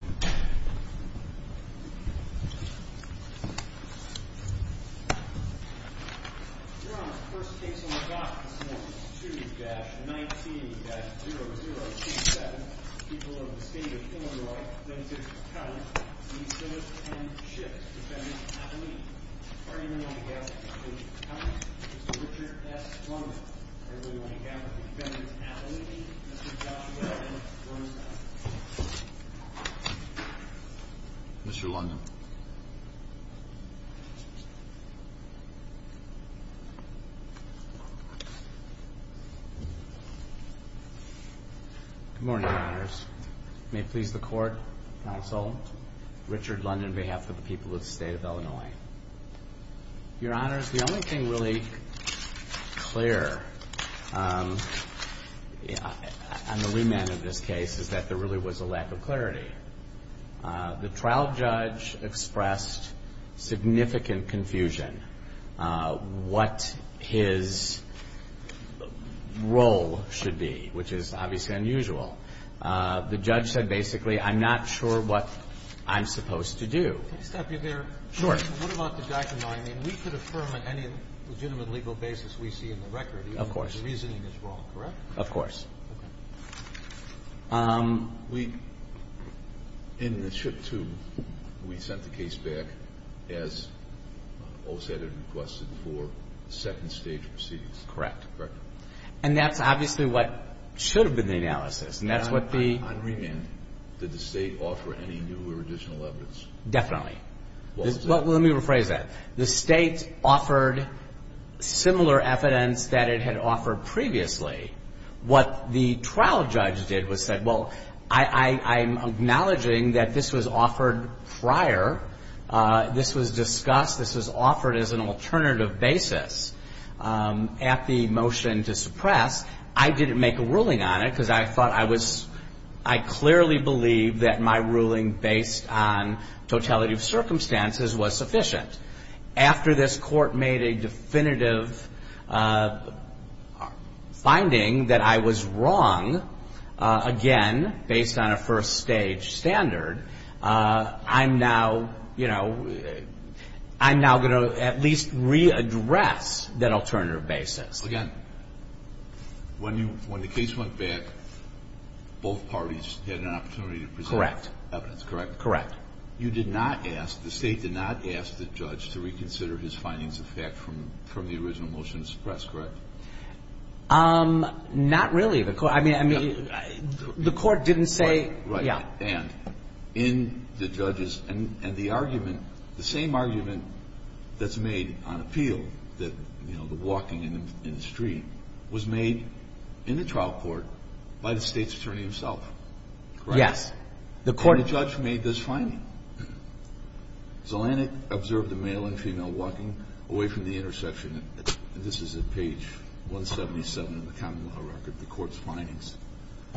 2-19-0027, people of the state of Illinois, Minnesota, Colorado, Mr. and Mrs. Shipp, defendants at the meeting. The party member on behalf of the state of Colorado, Mr. Richard S. Rundle. Everybody on behalf of the defendants at the meeting, Mr. Joshua M. Rundle. Mr. Rundle. Good morning, Your Honors. May it please the Court, counsel, Richard Rundle on behalf of the people of the state of Illinois. Your Honors, the only thing really clear on the remand of this case is that there really was a lack of clarity. The trial judge expressed significant confusion what his role should be, which is obviously unusual. The judge said basically, I'm not sure what I'm supposed to do. Can I stop you there? Sure. What about the document? I mean, we could affirm on any legitimate legal basis we see in the record. Of course. The reasoning is wrong, correct? Of course. Okay. We, in the Shipp 2, we sent the case back as OSED had requested for second stage proceedings. Correct. Correct. And that's obviously what should have been the analysis, and that's what the — On remand, did the state offer any new or additional evidence? Definitely. Well, let me rephrase that. The state offered similar evidence that it had offered previously. What the trial judge did was said, well, I'm acknowledging that this was offered prior. This was discussed. This was offered as an alternative basis at the motion to suppress. I didn't make a ruling on it because I thought I was — I clearly believed that my ruling based on totality of circumstances was sufficient. After this court made a definitive finding that I was wrong, again, based on a first stage standard, I'm now, you know, I'm now going to at least readdress that alternative basis. Again, when you — when the case went back, both parties had an opportunity to present evidence. Correct. Correct? Correct. You did not ask — the state did not ask the judge to reconsider his findings of fact from the original motion to suppress, correct? Not really. I mean, the court didn't say — Right. Yeah. And in the judge's — and the argument, the same argument that's made on appeal, that, you know, the walking in the street, was made in the trial court by the state's attorney himself, correct? Yes. The court — And the judge made this finding. Zolanik observed the male and female walking away from the intersection. This is at page 177 in the common law record, the court's findings.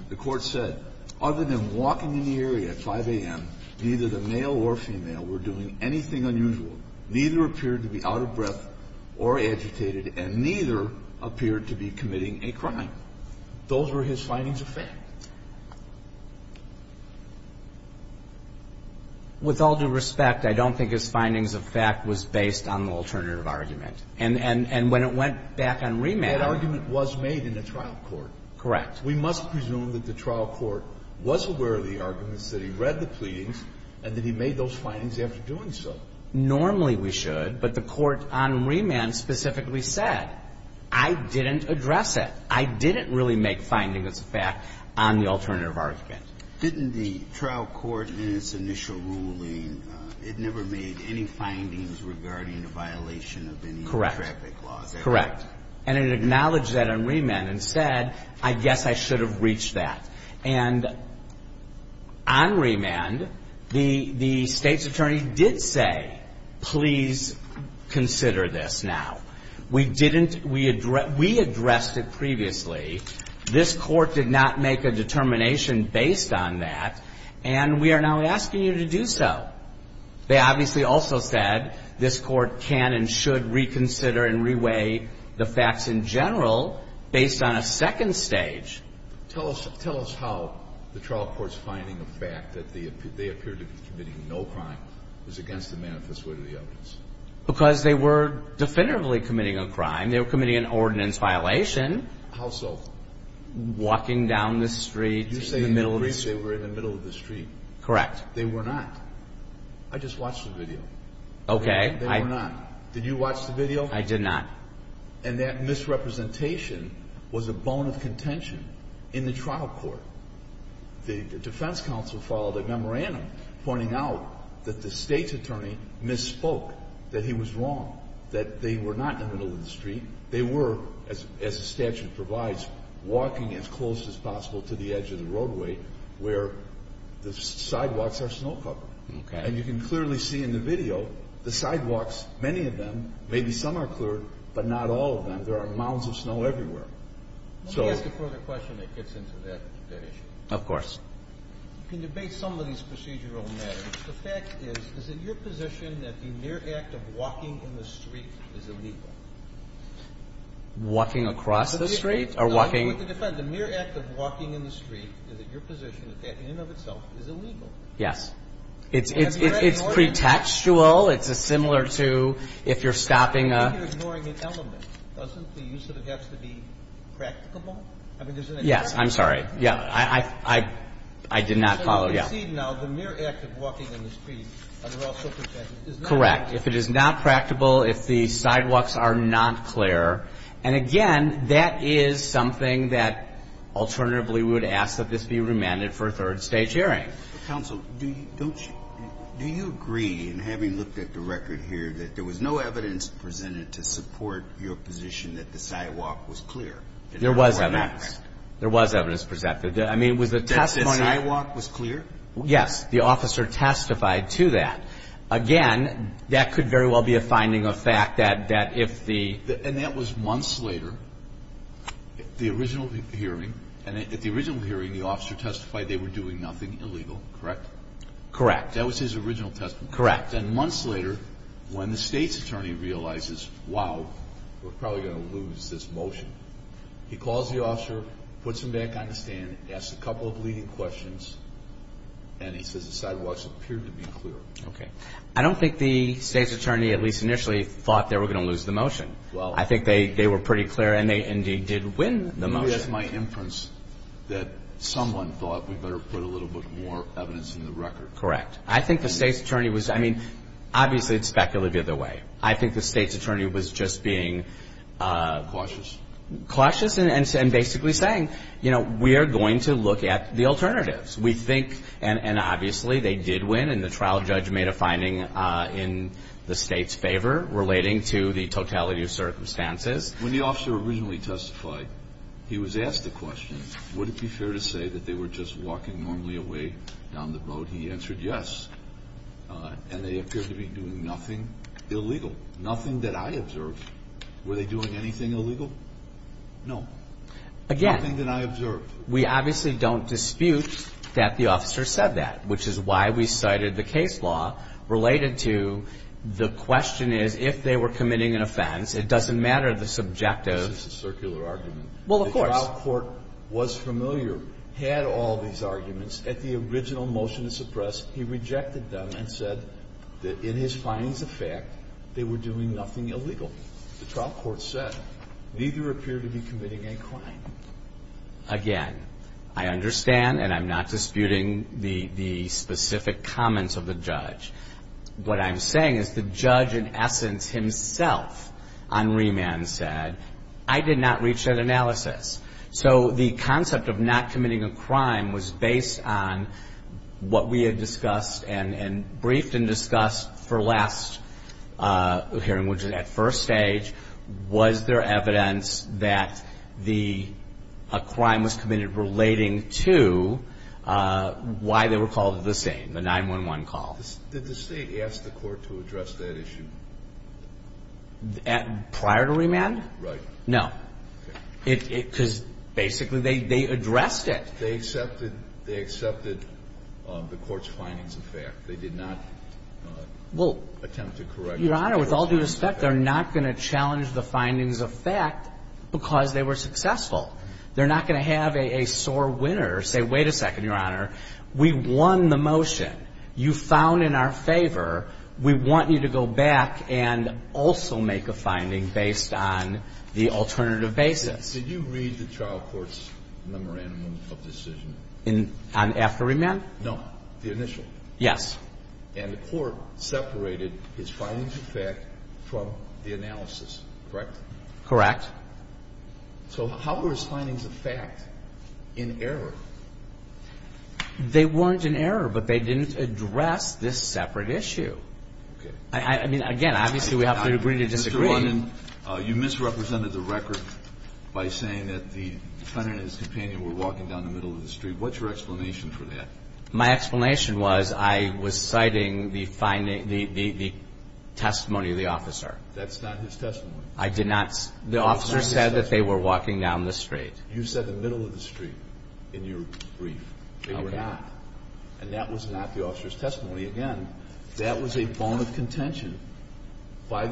The court said, other than walking in the area at 5 a.m., neither the male or female were doing anything unusual, neither appeared to be out of breath or agitated, and neither appeared to be committing a crime. Those were his findings of fact. With all due respect, I don't think his findings of fact was based on the alternative argument. And when it went back on remand — That argument was made in the trial court. Correct. We must presume that the trial court was aware of the arguments, that he read the pleadings, and that he made those findings after doing so. Normally we should, but the court on remand specifically said, I didn't address it. I didn't really make findings of fact on the alternative argument. Didn't the trial court in its initial ruling, it never made any findings regarding the violation of any traffic laws? Correct. Correct. And it acknowledged that on remand and said, I guess I should have reached that. And on remand, the State's attorney did say, please consider this now. We didn't — we addressed it previously. This court did not make a determination based on that, and we are now asking you to do so. They obviously also said this court can and should reconsider and reweigh the facts in general based on a second stage. Tell us how the trial court's finding of fact that they appeared to be committing no crime is against the manifest way of the evidence. Because they were definitively committing a crime. They were committing an ordinance violation. How so? Walking down the street in the middle of the street. You're saying they were in the middle of the street. Correct. They were not. I just watched the video. Okay. They were not. Did you watch the video? I did not. And that misrepresentation was a bone of contention in the trial court. The defense counsel followed a memorandum pointing out that the State's attorney misspoke, that he was wrong, that they were not in the middle of the street. They were, as the statute provides, walking as close as possible to the edge of the roadway where the sidewalks are snow covered. Okay. And you can clearly see in the video the sidewalks, many of them, maybe some are cleared, but not all of them. There are mounds of snow everywhere. Let me ask a further question that gets into that issue. Of course. You can debate some of these procedural matters. The fact is, is it your position that the mere act of walking in the street is illegal? Walking across the street or walking? No, with the defense. The mere act of walking in the street is it your position that that in and of itself is illegal? Yes. It's pretextual. It's similar to if you're stopping a... I think you're ignoring an element. Doesn't the use of it have to be practicable? Yes. I'm sorry. Yeah. I did not follow. As you can see now, the mere act of walking in the street is also pretextual. Correct. If it is not practical, if the sidewalks are not clear. And, again, that is something that alternatively we would ask that this be remanded for a third stage hearing. Counsel, do you agree in having looked at the record here that there was no evidence presented to support your position that the sidewalk was clear? There was evidence. There was evidence presented. I mean, was the testimony... That the sidewalk was clear? Yes. The officer testified to that. Again, that could very well be a finding of fact that if the... And that was months later, the original hearing. And at the original hearing, the officer testified they were doing nothing illegal, correct? Correct. That was his original testimony. Correct. And months later, when the State's attorney realizes, wow, we're probably going to lose this motion, he calls the officer, puts him back on the stand, asks a couple of leading questions, and he says the sidewalks appeared to be clear. Okay. I don't think the State's attorney, at least initially, thought they were going to lose the motion. Well... I think they were pretty clear, and they indeed did win the motion. You asked my inference that someone thought we better put a little bit more evidence in the record. Correct. I think the State's attorney was... I mean, obviously it's speculated the other way. I think the State's attorney was just being... Cautious. Cautious and basically saying, you know, we are going to look at the alternatives. We think... And obviously they did win, and the trial judge made a finding in the State's favor relating to the totality of circumstances. When the officer originally testified, he was asked the question, would it be fair to say that they were just walking normally away down the road? He answered yes, and they appeared to be doing nothing illegal, nothing that I observed. Were they doing anything illegal? No. Again. Nothing that I observed. We obviously don't dispute that the officer said that, which is why we cited the case law related to the question is, if they were committing an offense, it doesn't matter the subjective. This is a circular argument. Well, of course. The trial court was familiar, had all these arguments. At the original motion to suppress, he rejected them and said that in his findings of fact, they were doing nothing illegal. The trial court said, neither appear to be committing a crime. Again, I understand, and I'm not disputing the specific comments of the judge. What I'm saying is the judge in essence himself on remand said, I did not reach that analysis. So the concept of not committing a crime was based on what we had discussed and briefed and discussed for last hearing, which is at first stage, was there evidence that a crime was committed relating to why they were called the same, the 911 call? Did the state ask the court to address that issue? Prior to remand? Right. No. Because basically they addressed it. They accepted the court's findings of fact. They did not attempt to correct the court's findings of fact. Your Honor, with all due respect, they're not going to challenge the findings of fact because they were successful. They're not going to have a sore winner say, wait a second, Your Honor. We won the motion. You found in our favor. We want you to go back and also make a finding based on the alternative basis. Did you read the trial court's memorandum of decision? On after remand? No, the initial. Yes. And the court separated his findings of fact from the analysis, correct? Correct. So how were his findings of fact in error? They weren't in error, but they didn't address this separate issue. Okay. I mean, again, obviously we have to agree to disagree. Mr. London, you misrepresented the record by saying that the defendant and his companion were walking down the middle of the street. What's your explanation for that? My explanation was I was citing the testimony of the officer. That's not his testimony. I did not. The officer said that they were walking down the street. You said the middle of the street in your brief. They were not. And that was not the officer's testimony. Again, that was a bone of contention by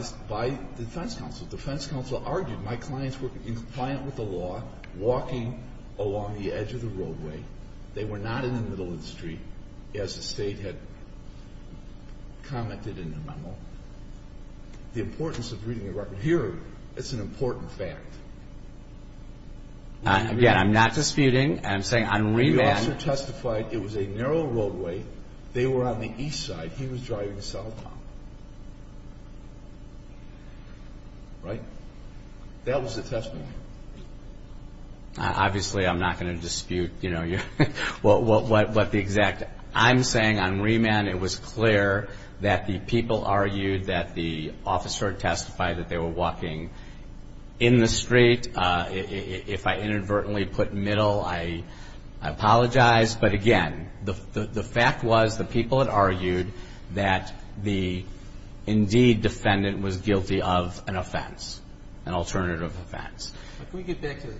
defense counsel. Defense counsel argued my clients were compliant with the law, walking along the edge of the roadway. They were not in the middle of the street, as the State had commented in the memo. The importance of reading the record here, it's an important fact. Again, I'm not disputing. I'm saying on remand. The officer testified it was a narrow roadway. They were on the east side. He was driving southbound. Right? That was the testimony. Obviously, I'm not going to dispute what the exact. I'm saying on remand it was clear that the people argued that the officer testified that they were walking in the street. If I inadvertently put middle, I apologize. But, again, the fact was the people had argued that the, indeed, defendant was guilty of an offense, an alternative offense. Can we get back to the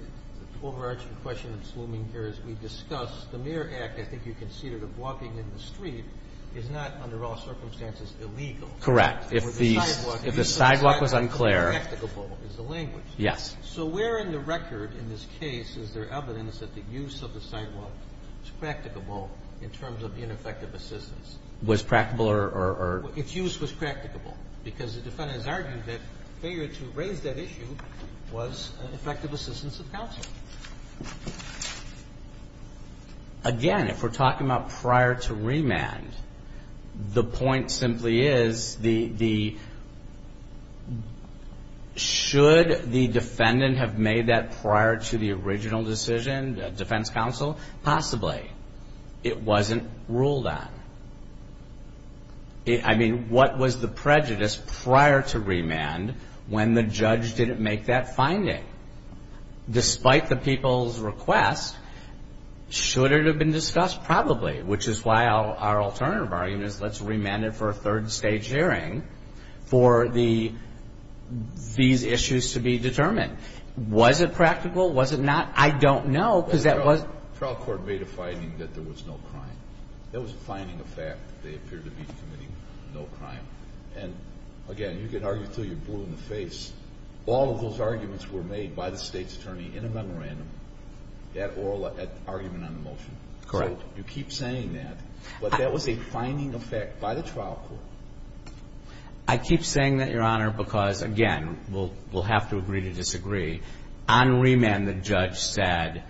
overarching question of Sluming here? As we discussed, the mere act, I think you conceded, of walking in the street is not, under all circumstances, illegal. Correct. If the sidewalk was unclear. It's a language. Yes. So where in the record in this case is there evidence that the use of the sidewalk was practicable in terms of ineffective assistance? Was practicable or? Its use was practicable. Because the defendants argued that failure to raise that issue was an effective assistance of counsel. Again, if we're talking about prior to remand, the point simply is the, should the defendant have made that prior to the original decision, defense counsel? Possibly. It wasn't ruled on. I mean, what was the prejudice prior to remand when the judge didn't make that finding? Despite the people's request, should it have been discussed? Probably. Which is why our alternative argument is let's remand it for a third stage hearing for these issues to be determined. Was it practical? Was it not? I don't know because that was. The trial court made a finding that there was no crime. There was a finding of fact that they appeared to be committing no crime. And, again, you could argue until you're blue in the face. All of those arguments were made by the state's attorney in a memorandum, that oral argument on the motion. Correct. So you keep saying that, but that was a finding of fact by the trial court. I keep saying that, Your Honor, because, again, we'll have to agree to disagree. On remand, the judge said,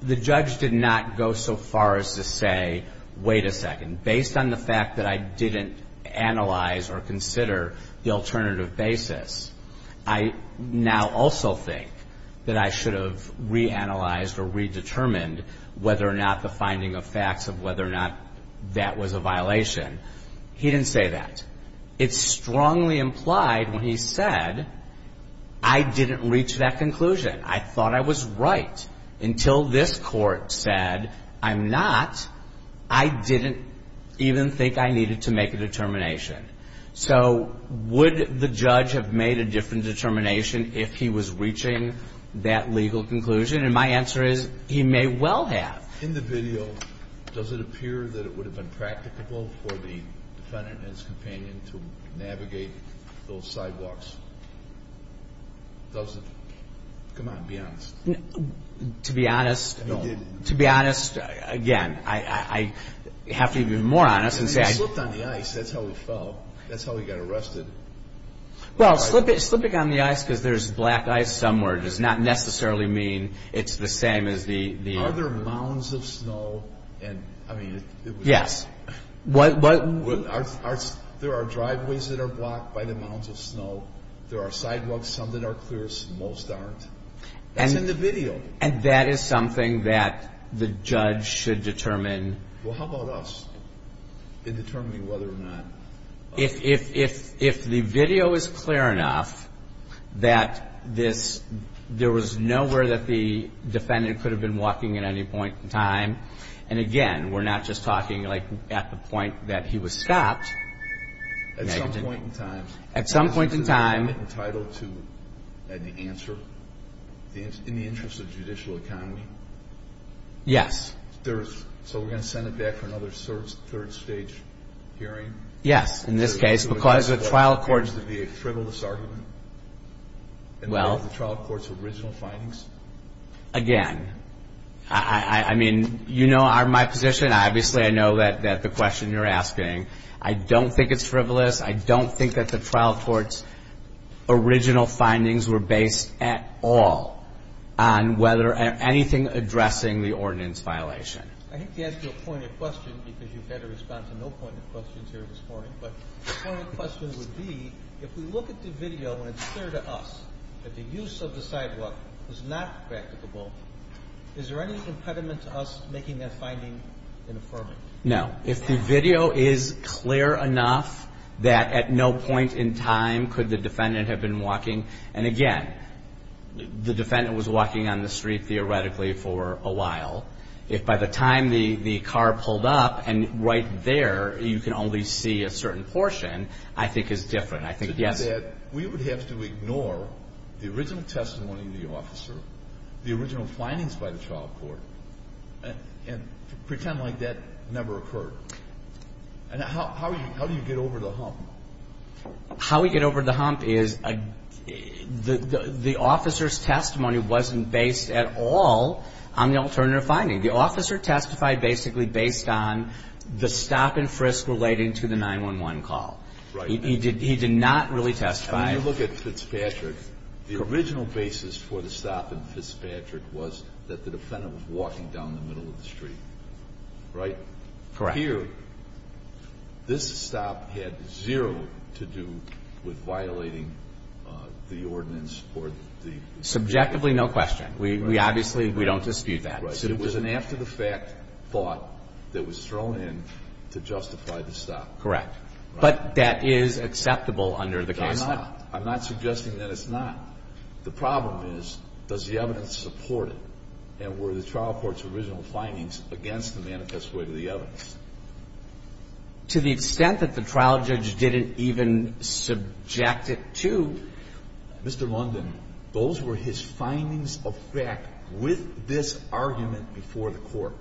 the judge did not go so far as to say, wait a second. Based on the fact that I didn't analyze or consider the alternative basis, I now also think that I should have reanalyzed or redetermined whether or not the finding of facts of whether or not that was a violation. He didn't say that. It strongly implied when he said, I didn't reach that conclusion. I thought I was right until this court said, I'm not. I didn't even think I needed to make a determination. So would the judge have made a different determination if he was reaching that legal conclusion? And my answer is, he may well have. In the video, does it appear that it would have been practicable for the defendant and his companion to navigate those sidewalks? Does it? Come on, be honest. To be honest, again, I have to be more honest. He slipped on the ice. That's how he fell. That's how he got arrested. Well, slipping on the ice because there's black ice somewhere does not necessarily mean it's the same as the other. Are there mounds of snow? Yes. There are driveways that are blocked by the mounds of snow. There are sidewalks, some that are clear, most aren't. That's in the video. And that is something that the judge should determine. Well, how about us in determining whether or not? If the video is clear enough that there was nowhere that the defendant could have been walking at any point in time, and, again, we're not just talking, like, at the point that he was stopped. At some point in time. At some point in time. Is the defendant entitled to an answer in the interest of the judicial economy? Yes. So we're going to send it back for another third-stage hearing? Yes, in this case. Because the trial court. Would it be a frivolous argument? Well. In the trial court's original findings? Again, I mean, you know my position. Obviously, I know that the question you're asking, I don't think it's frivolous. I don't think that the trial court's original findings were based at all on whether anything addressing the ordinance violation. I hate to ask you a pointed question, because you've had to respond to no pointed questions here this morning. But the pointed question would be, if we look at the video and it's clear to us that the use of the sidewalk was not practicable, is there any impediment to us making that finding an affirming? No. If the video is clear enough that at no point in time could the defendant have been walking, and, again, the defendant was walking on the street, theoretically, for a while. If by the time the car pulled up and right there you can only see a certain portion, I think it's different. I think, yes. To do that, we would have to ignore the original testimony of the officer, the original findings by the trial court, and pretend like that never occurred. And how do you get over the hump? How we get over the hump is the officer's testimony wasn't based at all on the alternative finding. The officer testified basically based on the stop and frisk relating to the 911 call. Right. He did not really testify. And when you look at Fitzpatrick, the original basis for the stop in Fitzpatrick was that the defendant was walking down the middle of the street. Right? Correct. Now, here, this stop had zero to do with violating the ordinance or the statute. Subjectively, no question. We obviously, we don't dispute that. Right. It was an after-the-fact thought that was thrown in to justify the stop. Correct. But that is acceptable under the case law. It's not. I'm not suggesting that it's not. The problem is, does the evidence support it? And were the trial court's original findings against the manifest way to the evidence? To the extent that the trial judge didn't even subject it to. Mr. London, those were his findings of fact with this argument before the court.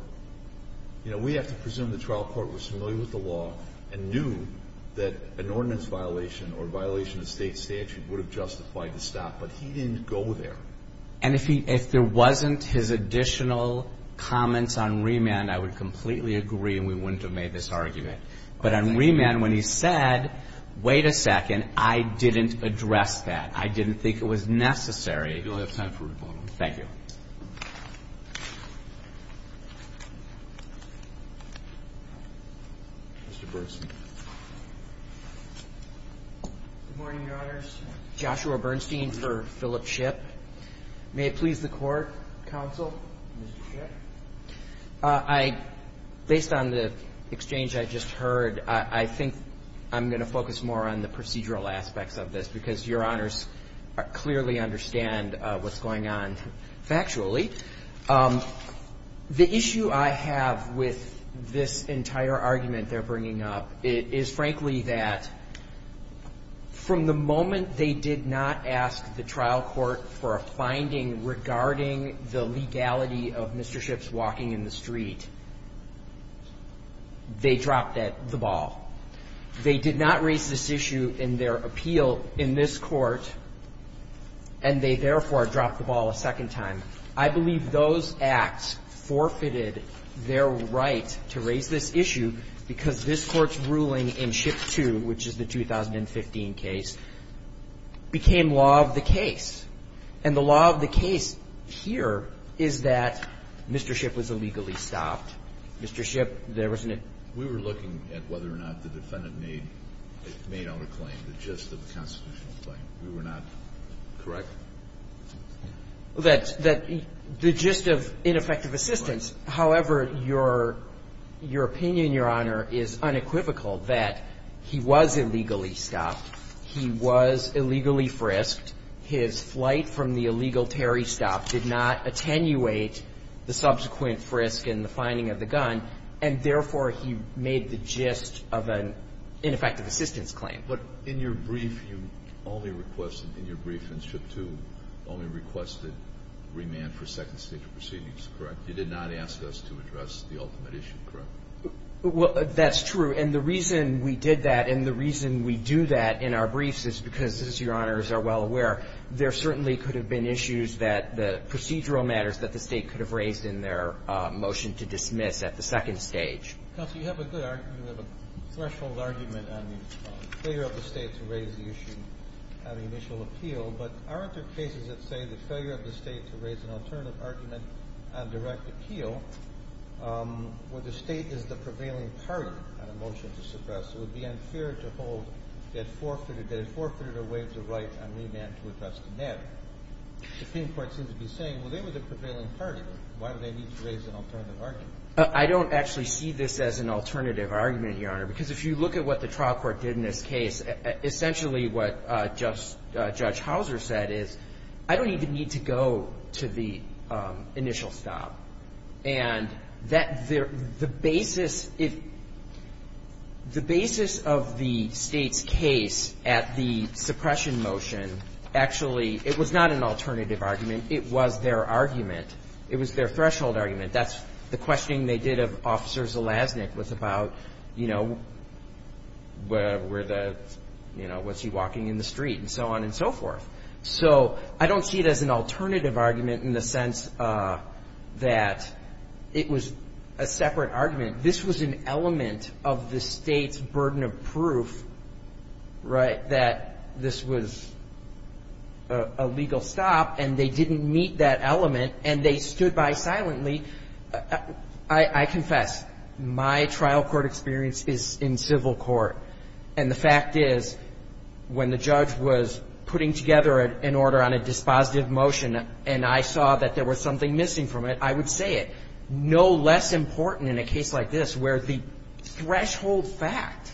You know, we have to presume the trial court was familiar with the law and knew that an ordinance violation or violation of state statute would have justified the stop. But he didn't go there. And if there wasn't his additional comments on remand, I would completely agree and we wouldn't have made this argument. But on remand, when he said, wait a second, I didn't address that. I didn't think it was necessary. You'll have time for rebuttal. Thank you. Mr. Bernstein. Good morning, Your Honors. Joshua Bernstein for Philip Shipp. May it please the Court, counsel? Mr. Shipp. I, based on the exchange I just heard, I think I'm going to focus more on the procedural The issue I have with this entire argument they're bringing up is, frankly, that from the moment they did not ask the trial court for a finding regarding the legality of Mr. Shipp's walking in the street, they dropped the ball. They did not raise this issue in their appeal in this Court, and they, therefore, dropped the ball a second time. I believe those acts forfeited their right to raise this issue because this Court's ruling in Shipp 2, which is the 2015 case, became law of the case. And the law of the case here is that Mr. Shipp was illegally stopped. Mr. Shipp, there was an We were looking at whether or not the defendant made out a claim, the gist of the constitutional claim. We were not correct. That the gist of ineffective assistance, however, your opinion, Your Honor, is unequivocal that he was illegally stopped, he was illegally frisked, his flight from the illegal Terry stop did not attenuate the subsequent frisk in the finding of the gun, and therefore, he made the gist of an ineffective assistance claim. But in your brief, you only requested, in your brief in Shipp 2, only requested remand for second-stage proceedings, correct? You did not ask us to address the ultimate issue, correct? Well, that's true. And the reason we did that and the reason we do that in our briefs is because, as Your Honors are well aware, there certainly could have been issues that the procedural matters that the State could have raised in their motion to dismiss at the second stage. Counsel, you have a good argument, you have a threshold argument on the failure of the State to raise the issue on the initial appeal, but aren't there cases that say that failure of the State to raise an alternative argument on direct appeal where the State is the prevailing party on a motion to suppress, it would be unfair to hold that it forfeited or waived the right on remand to address the matter. The Supreme Court seems to be saying, well, they were the prevailing party. Why do they need to raise an alternative argument? I don't actually see this as an alternative argument, Your Honor, because if you look at what the trial court did in this case, essentially what Judge Houser said is I don't even need to go to the initial stop. And the basis of the State's case at the suppression motion actually, it was not an alternative argument. It was their argument. It was their threshold argument. That's the questioning they did of Officer Zelaznik was about, you know, was he walking in the street and so on and so forth. So I don't see it as an alternative argument in the sense that it was a separate argument. This was an element of the State's burden of proof, right, that this was a legal stop and they didn't meet that element and they stood by silently. I confess, my trial court experience is in civil court. And the fact is when the judge was putting together an order on a dispositive motion and I saw that there was something missing from it, I would say it. No less important in a case like this where the threshold fact,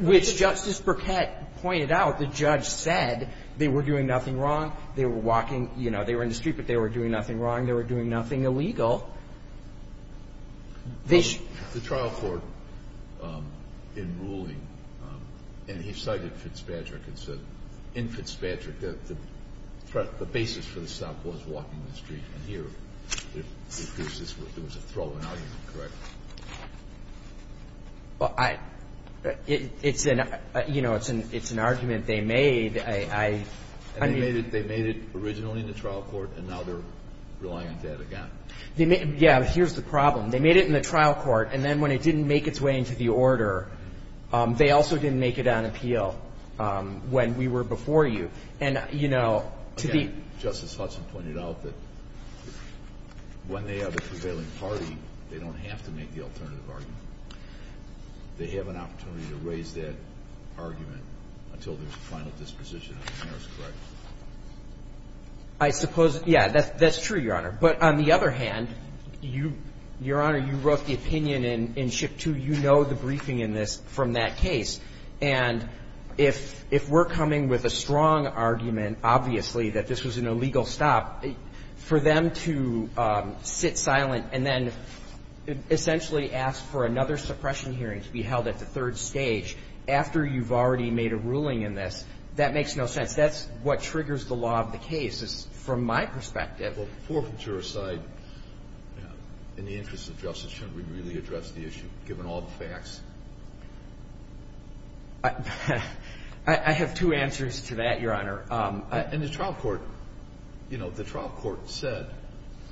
which Justice Burkett pointed out, the judge said they were doing nothing wrong. They were walking, you know, they were in the street, but they were doing nothing wrong. They were doing nothing illegal. This ---- The trial court in ruling, and he cited Fitzpatrick and said in Fitzpatrick that the basis for the stop was walking in the street. And here it appears this was a threshold argument, correct? Well, I ---- it's an, you know, it's an argument they made. I mean ---- They made it originally in the trial court and now they're relying on that again. Yeah, but here's the problem. They made it in the trial court and then when it didn't make its way into the order, they also didn't make it on appeal when we were before you. And, you know, to the ---- They have an opportunity to raise that argument until there's a final disposition on the merits, correct? I suppose, yeah, that's true, Your Honor. But on the other hand, you, Your Honor, you wrote the opinion in SHIP 2. You know the briefing in this from that case. And if we're coming with a strong argument, obviously, that this was an illegal stop, for them to sit silent and then essentially ask for another suppression hearing to be held at the third stage after you've already made a ruling in this, that makes no sense. That's what triggers the law of the case from my perspective. Well, forfeiture aside, in the interest of justice, shouldn't we really address the issue given all the facts? I have two answers to that, Your Honor. And the trial court, you know, the trial court said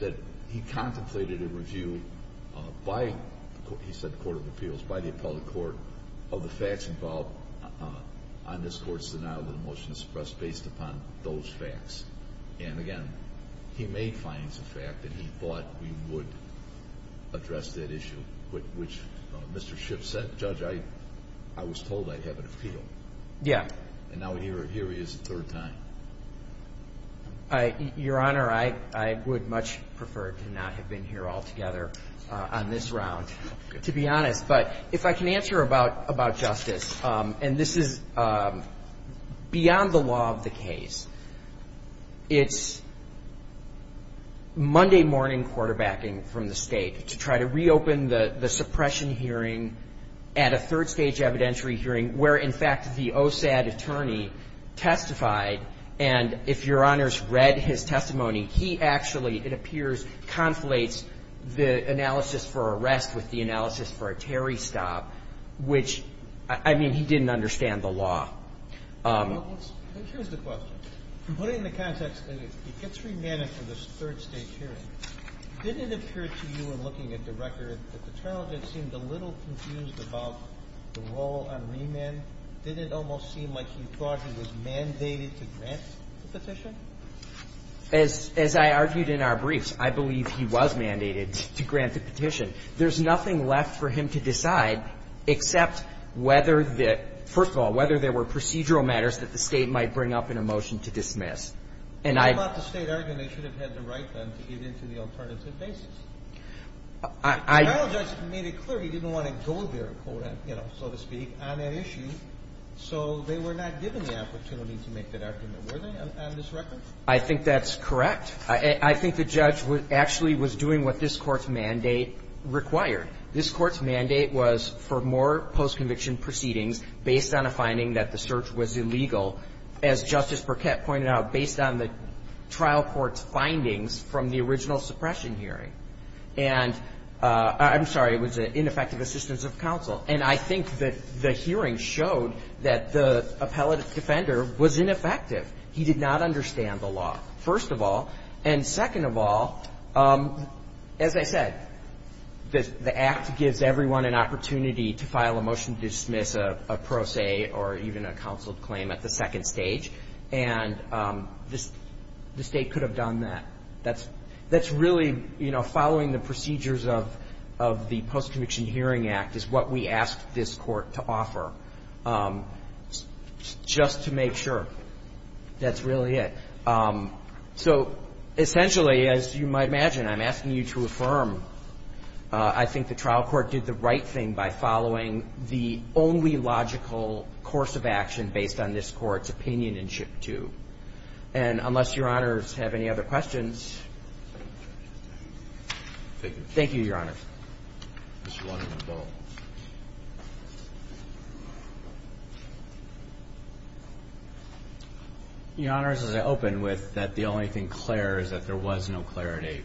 that he contemplated a review by, he said, the Court of Appeals, by the appellate court, of the facts involved on this court's denial of the motion of suppression based upon those facts. And, again, he made findings of fact that he thought we would address that issue, which Mr. SHIP said, Judge, I was told I'd have an appeal. Yeah. And now here he is a third time. Your Honor, I would much prefer to not have been here altogether on this round, to be honest. But if I can answer about justice, and this is beyond the law of the case, it's Monday morning quarterbacking from the state to try to reopen the suppression hearing at a third stage evidentiary hearing where, in fact, the OSAD attorney testified. And if Your Honor's read his testimony, he actually, it appears, conflates the analysis for arrest with the analysis for a Terry stop, which, I mean, he didn't understand the law. Here's the question. Putting the context in, it gets remanded for this third stage hearing. Did it appear to you in looking at the record that the trial judge seemed a little confused about the role on remand? Did it almost seem like he thought he was mandated to grant the petition? As I argued in our briefs, I believe he was mandated to grant the petition. There's nothing left for him to decide except whether the – first of all, whether there were procedural matters that the State might bring up in a motion to dismiss. And I – What about the State arguing they should have had the right then to get into the alternative basis? I – The State clearly didn't want to go there, you know, so to speak, on an issue. So they were not given the opportunity to make that argument, were they, on this record? I think that's correct. I think the judge actually was doing what this Court's mandate required. This Court's mandate was for more post-conviction proceedings based on a finding that the search was illegal, as Justice Burkett pointed out, based on the trial court's findings from the original suppression hearing. And I'm sorry, it was ineffective assistance of counsel. And I think that the hearing showed that the appellate defender was ineffective. He did not understand the law, first of all. And second of all, as I said, the Act gives everyone an opportunity to file a motion to dismiss a pro se or even a counseled claim at the second stage. And the State could have done that. That's really, you know, following the procedures of the Post-Conviction Hearing Act is what we ask this Court to offer, just to make sure. That's really it. So essentially, as you might imagine, I'm asking you to affirm, I think the trial court did the right thing by following the only logical course of action based on this Court's opinion in Chip 2. And unless Your Honors have any other questions. Thank you, Your Honors. Mr. Wonderman, go ahead. Your Honors, as I opened with, that the only thing clear is that there was no clarity.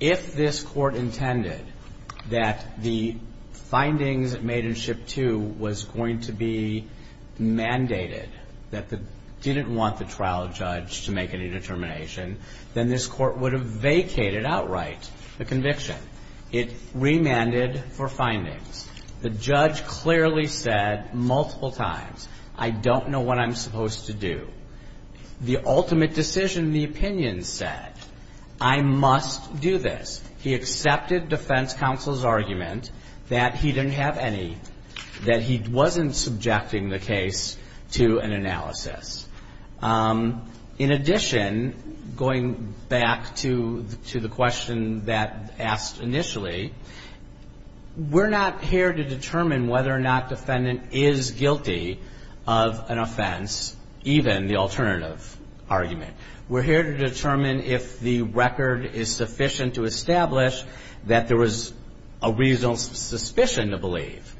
If this Court intended that the findings made in Chip 2 was going to be mandated, that they didn't want the trial judge to make any determination, then this Court would have vacated outright the conviction. It remanded for findings. The judge clearly said multiple times, I don't know what I'm supposed to do. The ultimate decision in the opinion said, I must do this. He accepted defense counsel's argument that he didn't have any, that he wasn't subjecting the case to an analysis. In addition, going back to the question that asked initially, we're not here to determine whether or not defendant is guilty of an offense, even the alternative argument. We're here to determine if the record is sufficient to establish that there was a reasonable suspicion to believe.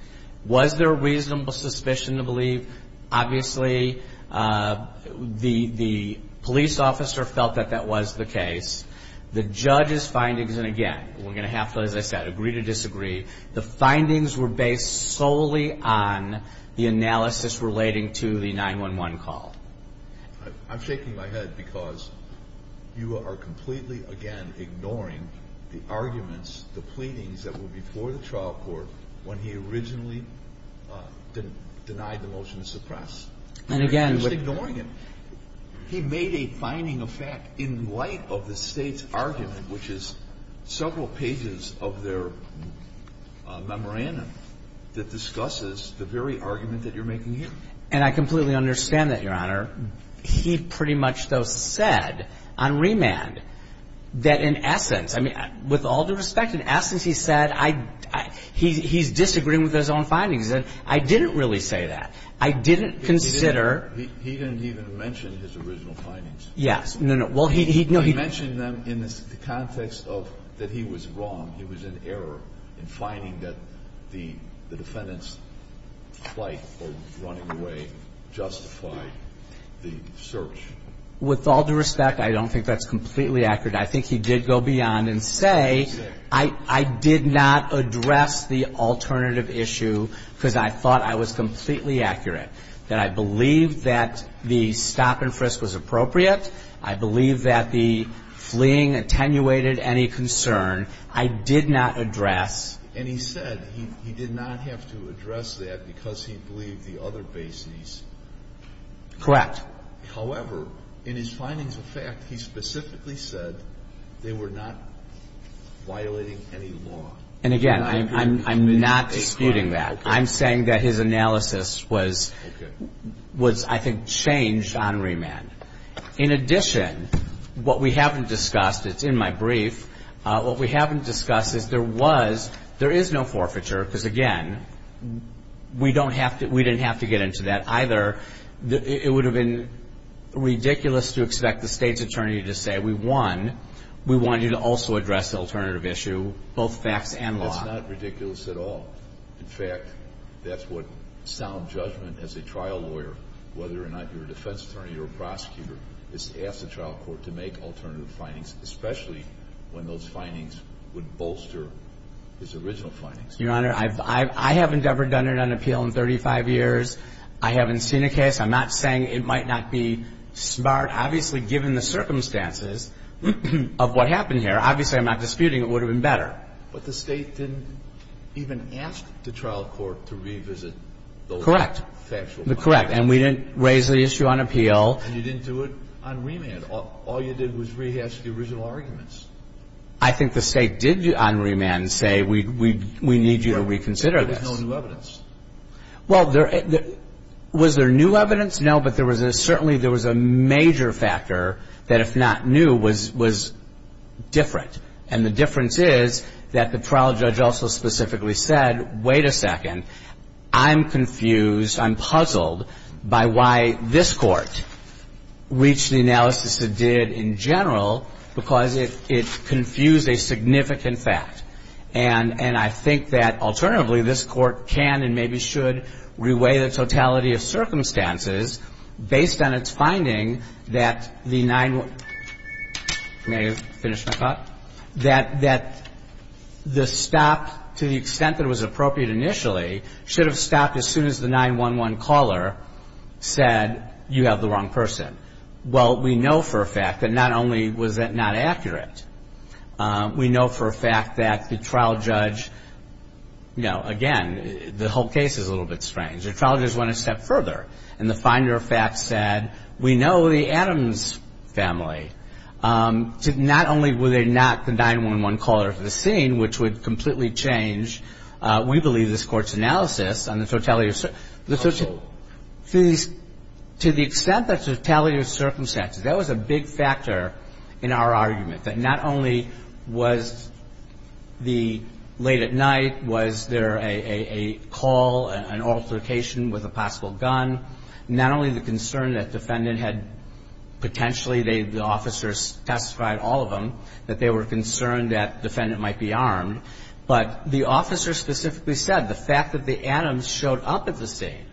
Was there a reasonable suspicion to believe? Obviously, the police officer felt that that was the case. The judge's findings, and again, we're going to have to, as I said, agree to disagree. The findings were based solely on the analysis relating to the 911 call. I'm shaking my head because you are completely, again, ignoring the arguments, the pleadings that were before the trial court when he originally denied the motion to suppress. And again, what you're doing is ignoring it. He made a finding of fact in light of the State's argument, which is several pages of their memorandum that discusses the very argument that you're making here. And I completely understand that, Your Honor. He pretty much, though, said on remand that in essence, I mean, with all due respect, in essence, he said I he's disagreeing with his own findings. And I didn't really say that. I didn't consider. He didn't even mention his original findings. Yes. No, no. Well, he, no, he. He mentioned them in the context of that he was wrong. He was in error in finding that the defendant's flight or running away justified the search. With all due respect, I don't think that's completely accurate. I think he did go beyond and say I did not address the alternative issue because I thought I was completely accurate, that I believe that the stop and frisk was appropriate. I believe that the fleeing attenuated any concern. I did not address. And he said he did not have to address that because he believed the other basis. Correct. However, in his findings of fact, he specifically said they were not violating any law. And, again, I'm not disputing that. I'm saying that his analysis was, I think, changed on remand. In addition, what we haven't discussed, it's in my brief, what we haven't discussed is there was, there is no forfeiture because, again, we don't have to, we didn't have to get into that either. It would have been ridiculous to expect the state's attorney to say we won, we want you to also address the alternative issue, both facts and law. That's not ridiculous at all. In fact, that's what sound judgment as a trial lawyer, whether or not you're a defense attorney or a prosecutor, is to ask the trial court to make alternative findings, especially when those findings would bolster his original findings. Your Honor, I haven't ever done it on appeal in 35 years. I haven't seen a case. I'm not saying it might not be smart. Obviously, given the circumstances of what happened here, obviously I'm not disputing it would have been better. But the state didn't even ask the trial court to revisit those factual findings. Correct. And we didn't raise the issue on appeal. And you didn't do it on remand. All you did was rehash the original arguments. I think the state did on remand say we need you to reconsider this. There was no new evidence. Well, was there new evidence? No, but there was a, certainly there was a major factor that if not new was different. And the difference is that the trial judge also specifically said, wait a second, I'm confused, I'm puzzled by why this Court reached the analysis it did in general, because it confused a significant fact. And I think that, alternatively, this Court can and maybe should reweigh the totality of circumstances based on its finding that the 9-1-1. May I finish my thought? That the stop, to the extent that it was appropriate initially, should have stopped as soon as the 9-1-1 caller said you have the wrong person. Well, we know for a fact that not only was that not accurate, we know for a fact that the trial judge, you know, again, the whole case is a little bit strange. The trial judge went a step further and the finder of facts said we know the Adams family. Not only were they not the 9-1-1 caller of the scene, which would completely change, we believe, this Court's analysis on the totality of circumstances. To the extent that totality of circumstances, that was a big factor in our argument, that not only was the late at night, was there a call, an altercation with a possible gun, not only the concern that defendant had potentially, the officers testified, all of them, that they were concerned that defendant might be armed, but the officer specifically said the fact that the Adams showed up at the scene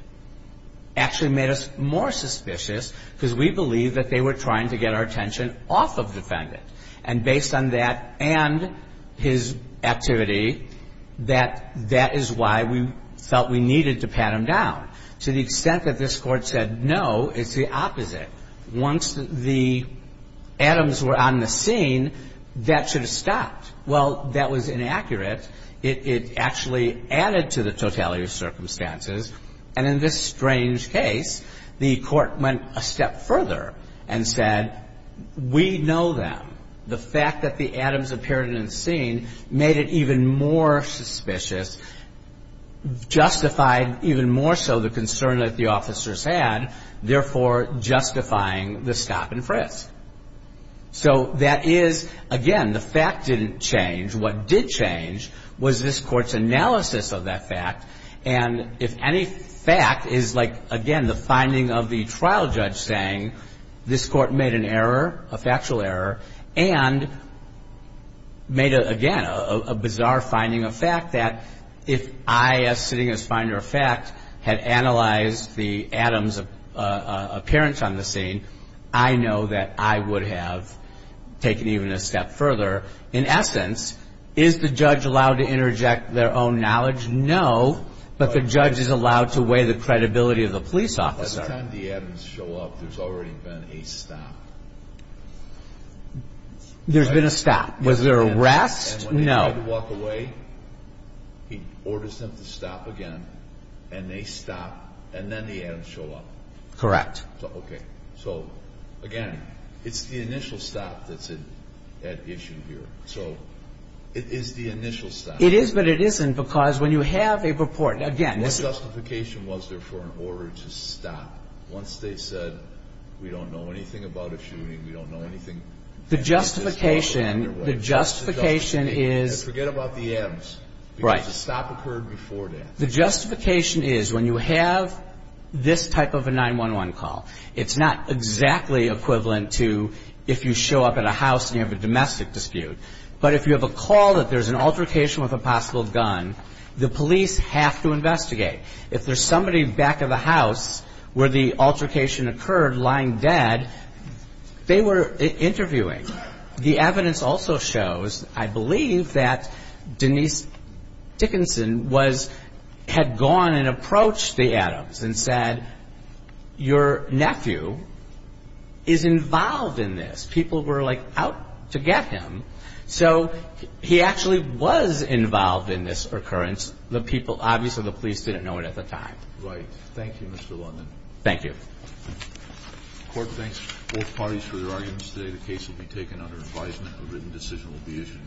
actually made us more suspicious because we believe that they were trying to get our attention off of defendant. And based on that and his activity, that that is why we felt we needed to pat him down. To the extent that this Court said no, it's the opposite. Once the Adams were on the scene, that should have stopped. Well, that was inaccurate. It actually added to the totality of circumstances. And in this strange case, the Court went a step further and said we know them. The fact that the Adams appeared in the scene made it even more suspicious, justified even more so the concern that the officers had, therefore justifying the stop and frisk. So that is, again, the fact didn't change. What did change was this Court's analysis of that fact. And if any fact is like, again, the finding of the trial judge saying this Court made an error, a factual error, and made, again, a bizarre finding of fact that if I, as sitting as finder of fact, had analyzed the Adams' appearance on the scene, I know that I would have taken even a step further. In essence, is the judge allowed to interject their own knowledge? No, but the judge is allowed to weigh the credibility of the police officer. And the Adams show up, there's already been a stop. There's been a stop. Was there a rest? No. And when he tried to walk away, he orders them to stop again, and they stop, and then the Adams show up. Correct. Okay. So, again, it's the initial stop that's at issue here. So it is the initial stop. It is, but it isn't because when you have a report, again this is the original stop. Once they said, we don't know anything about a shooting, we don't know anything. The justification, the justification is. Forget about the Adams. Right. Because the stop occurred before that. The justification is when you have this type of a 911 call, it's not exactly equivalent to if you show up at a house and you have a domestic dispute. But if you have a call that there's an altercation with a possible gun, the police have to investigate. If there's somebody back of the house where the altercation occurred lying dead, they were interviewing. The evidence also shows, I believe, that Denise Dickinson had gone and approached the Adams and said, your nephew is involved in this. People were, like, out to get him. So he actually was involved in this occurrence. The people, obviously the police didn't know it at the time. Right. Thank you, Mr. London. Thank you. The Court thanks both parties for their arguments today. The case will be taken under advisement. A written decision will be issued.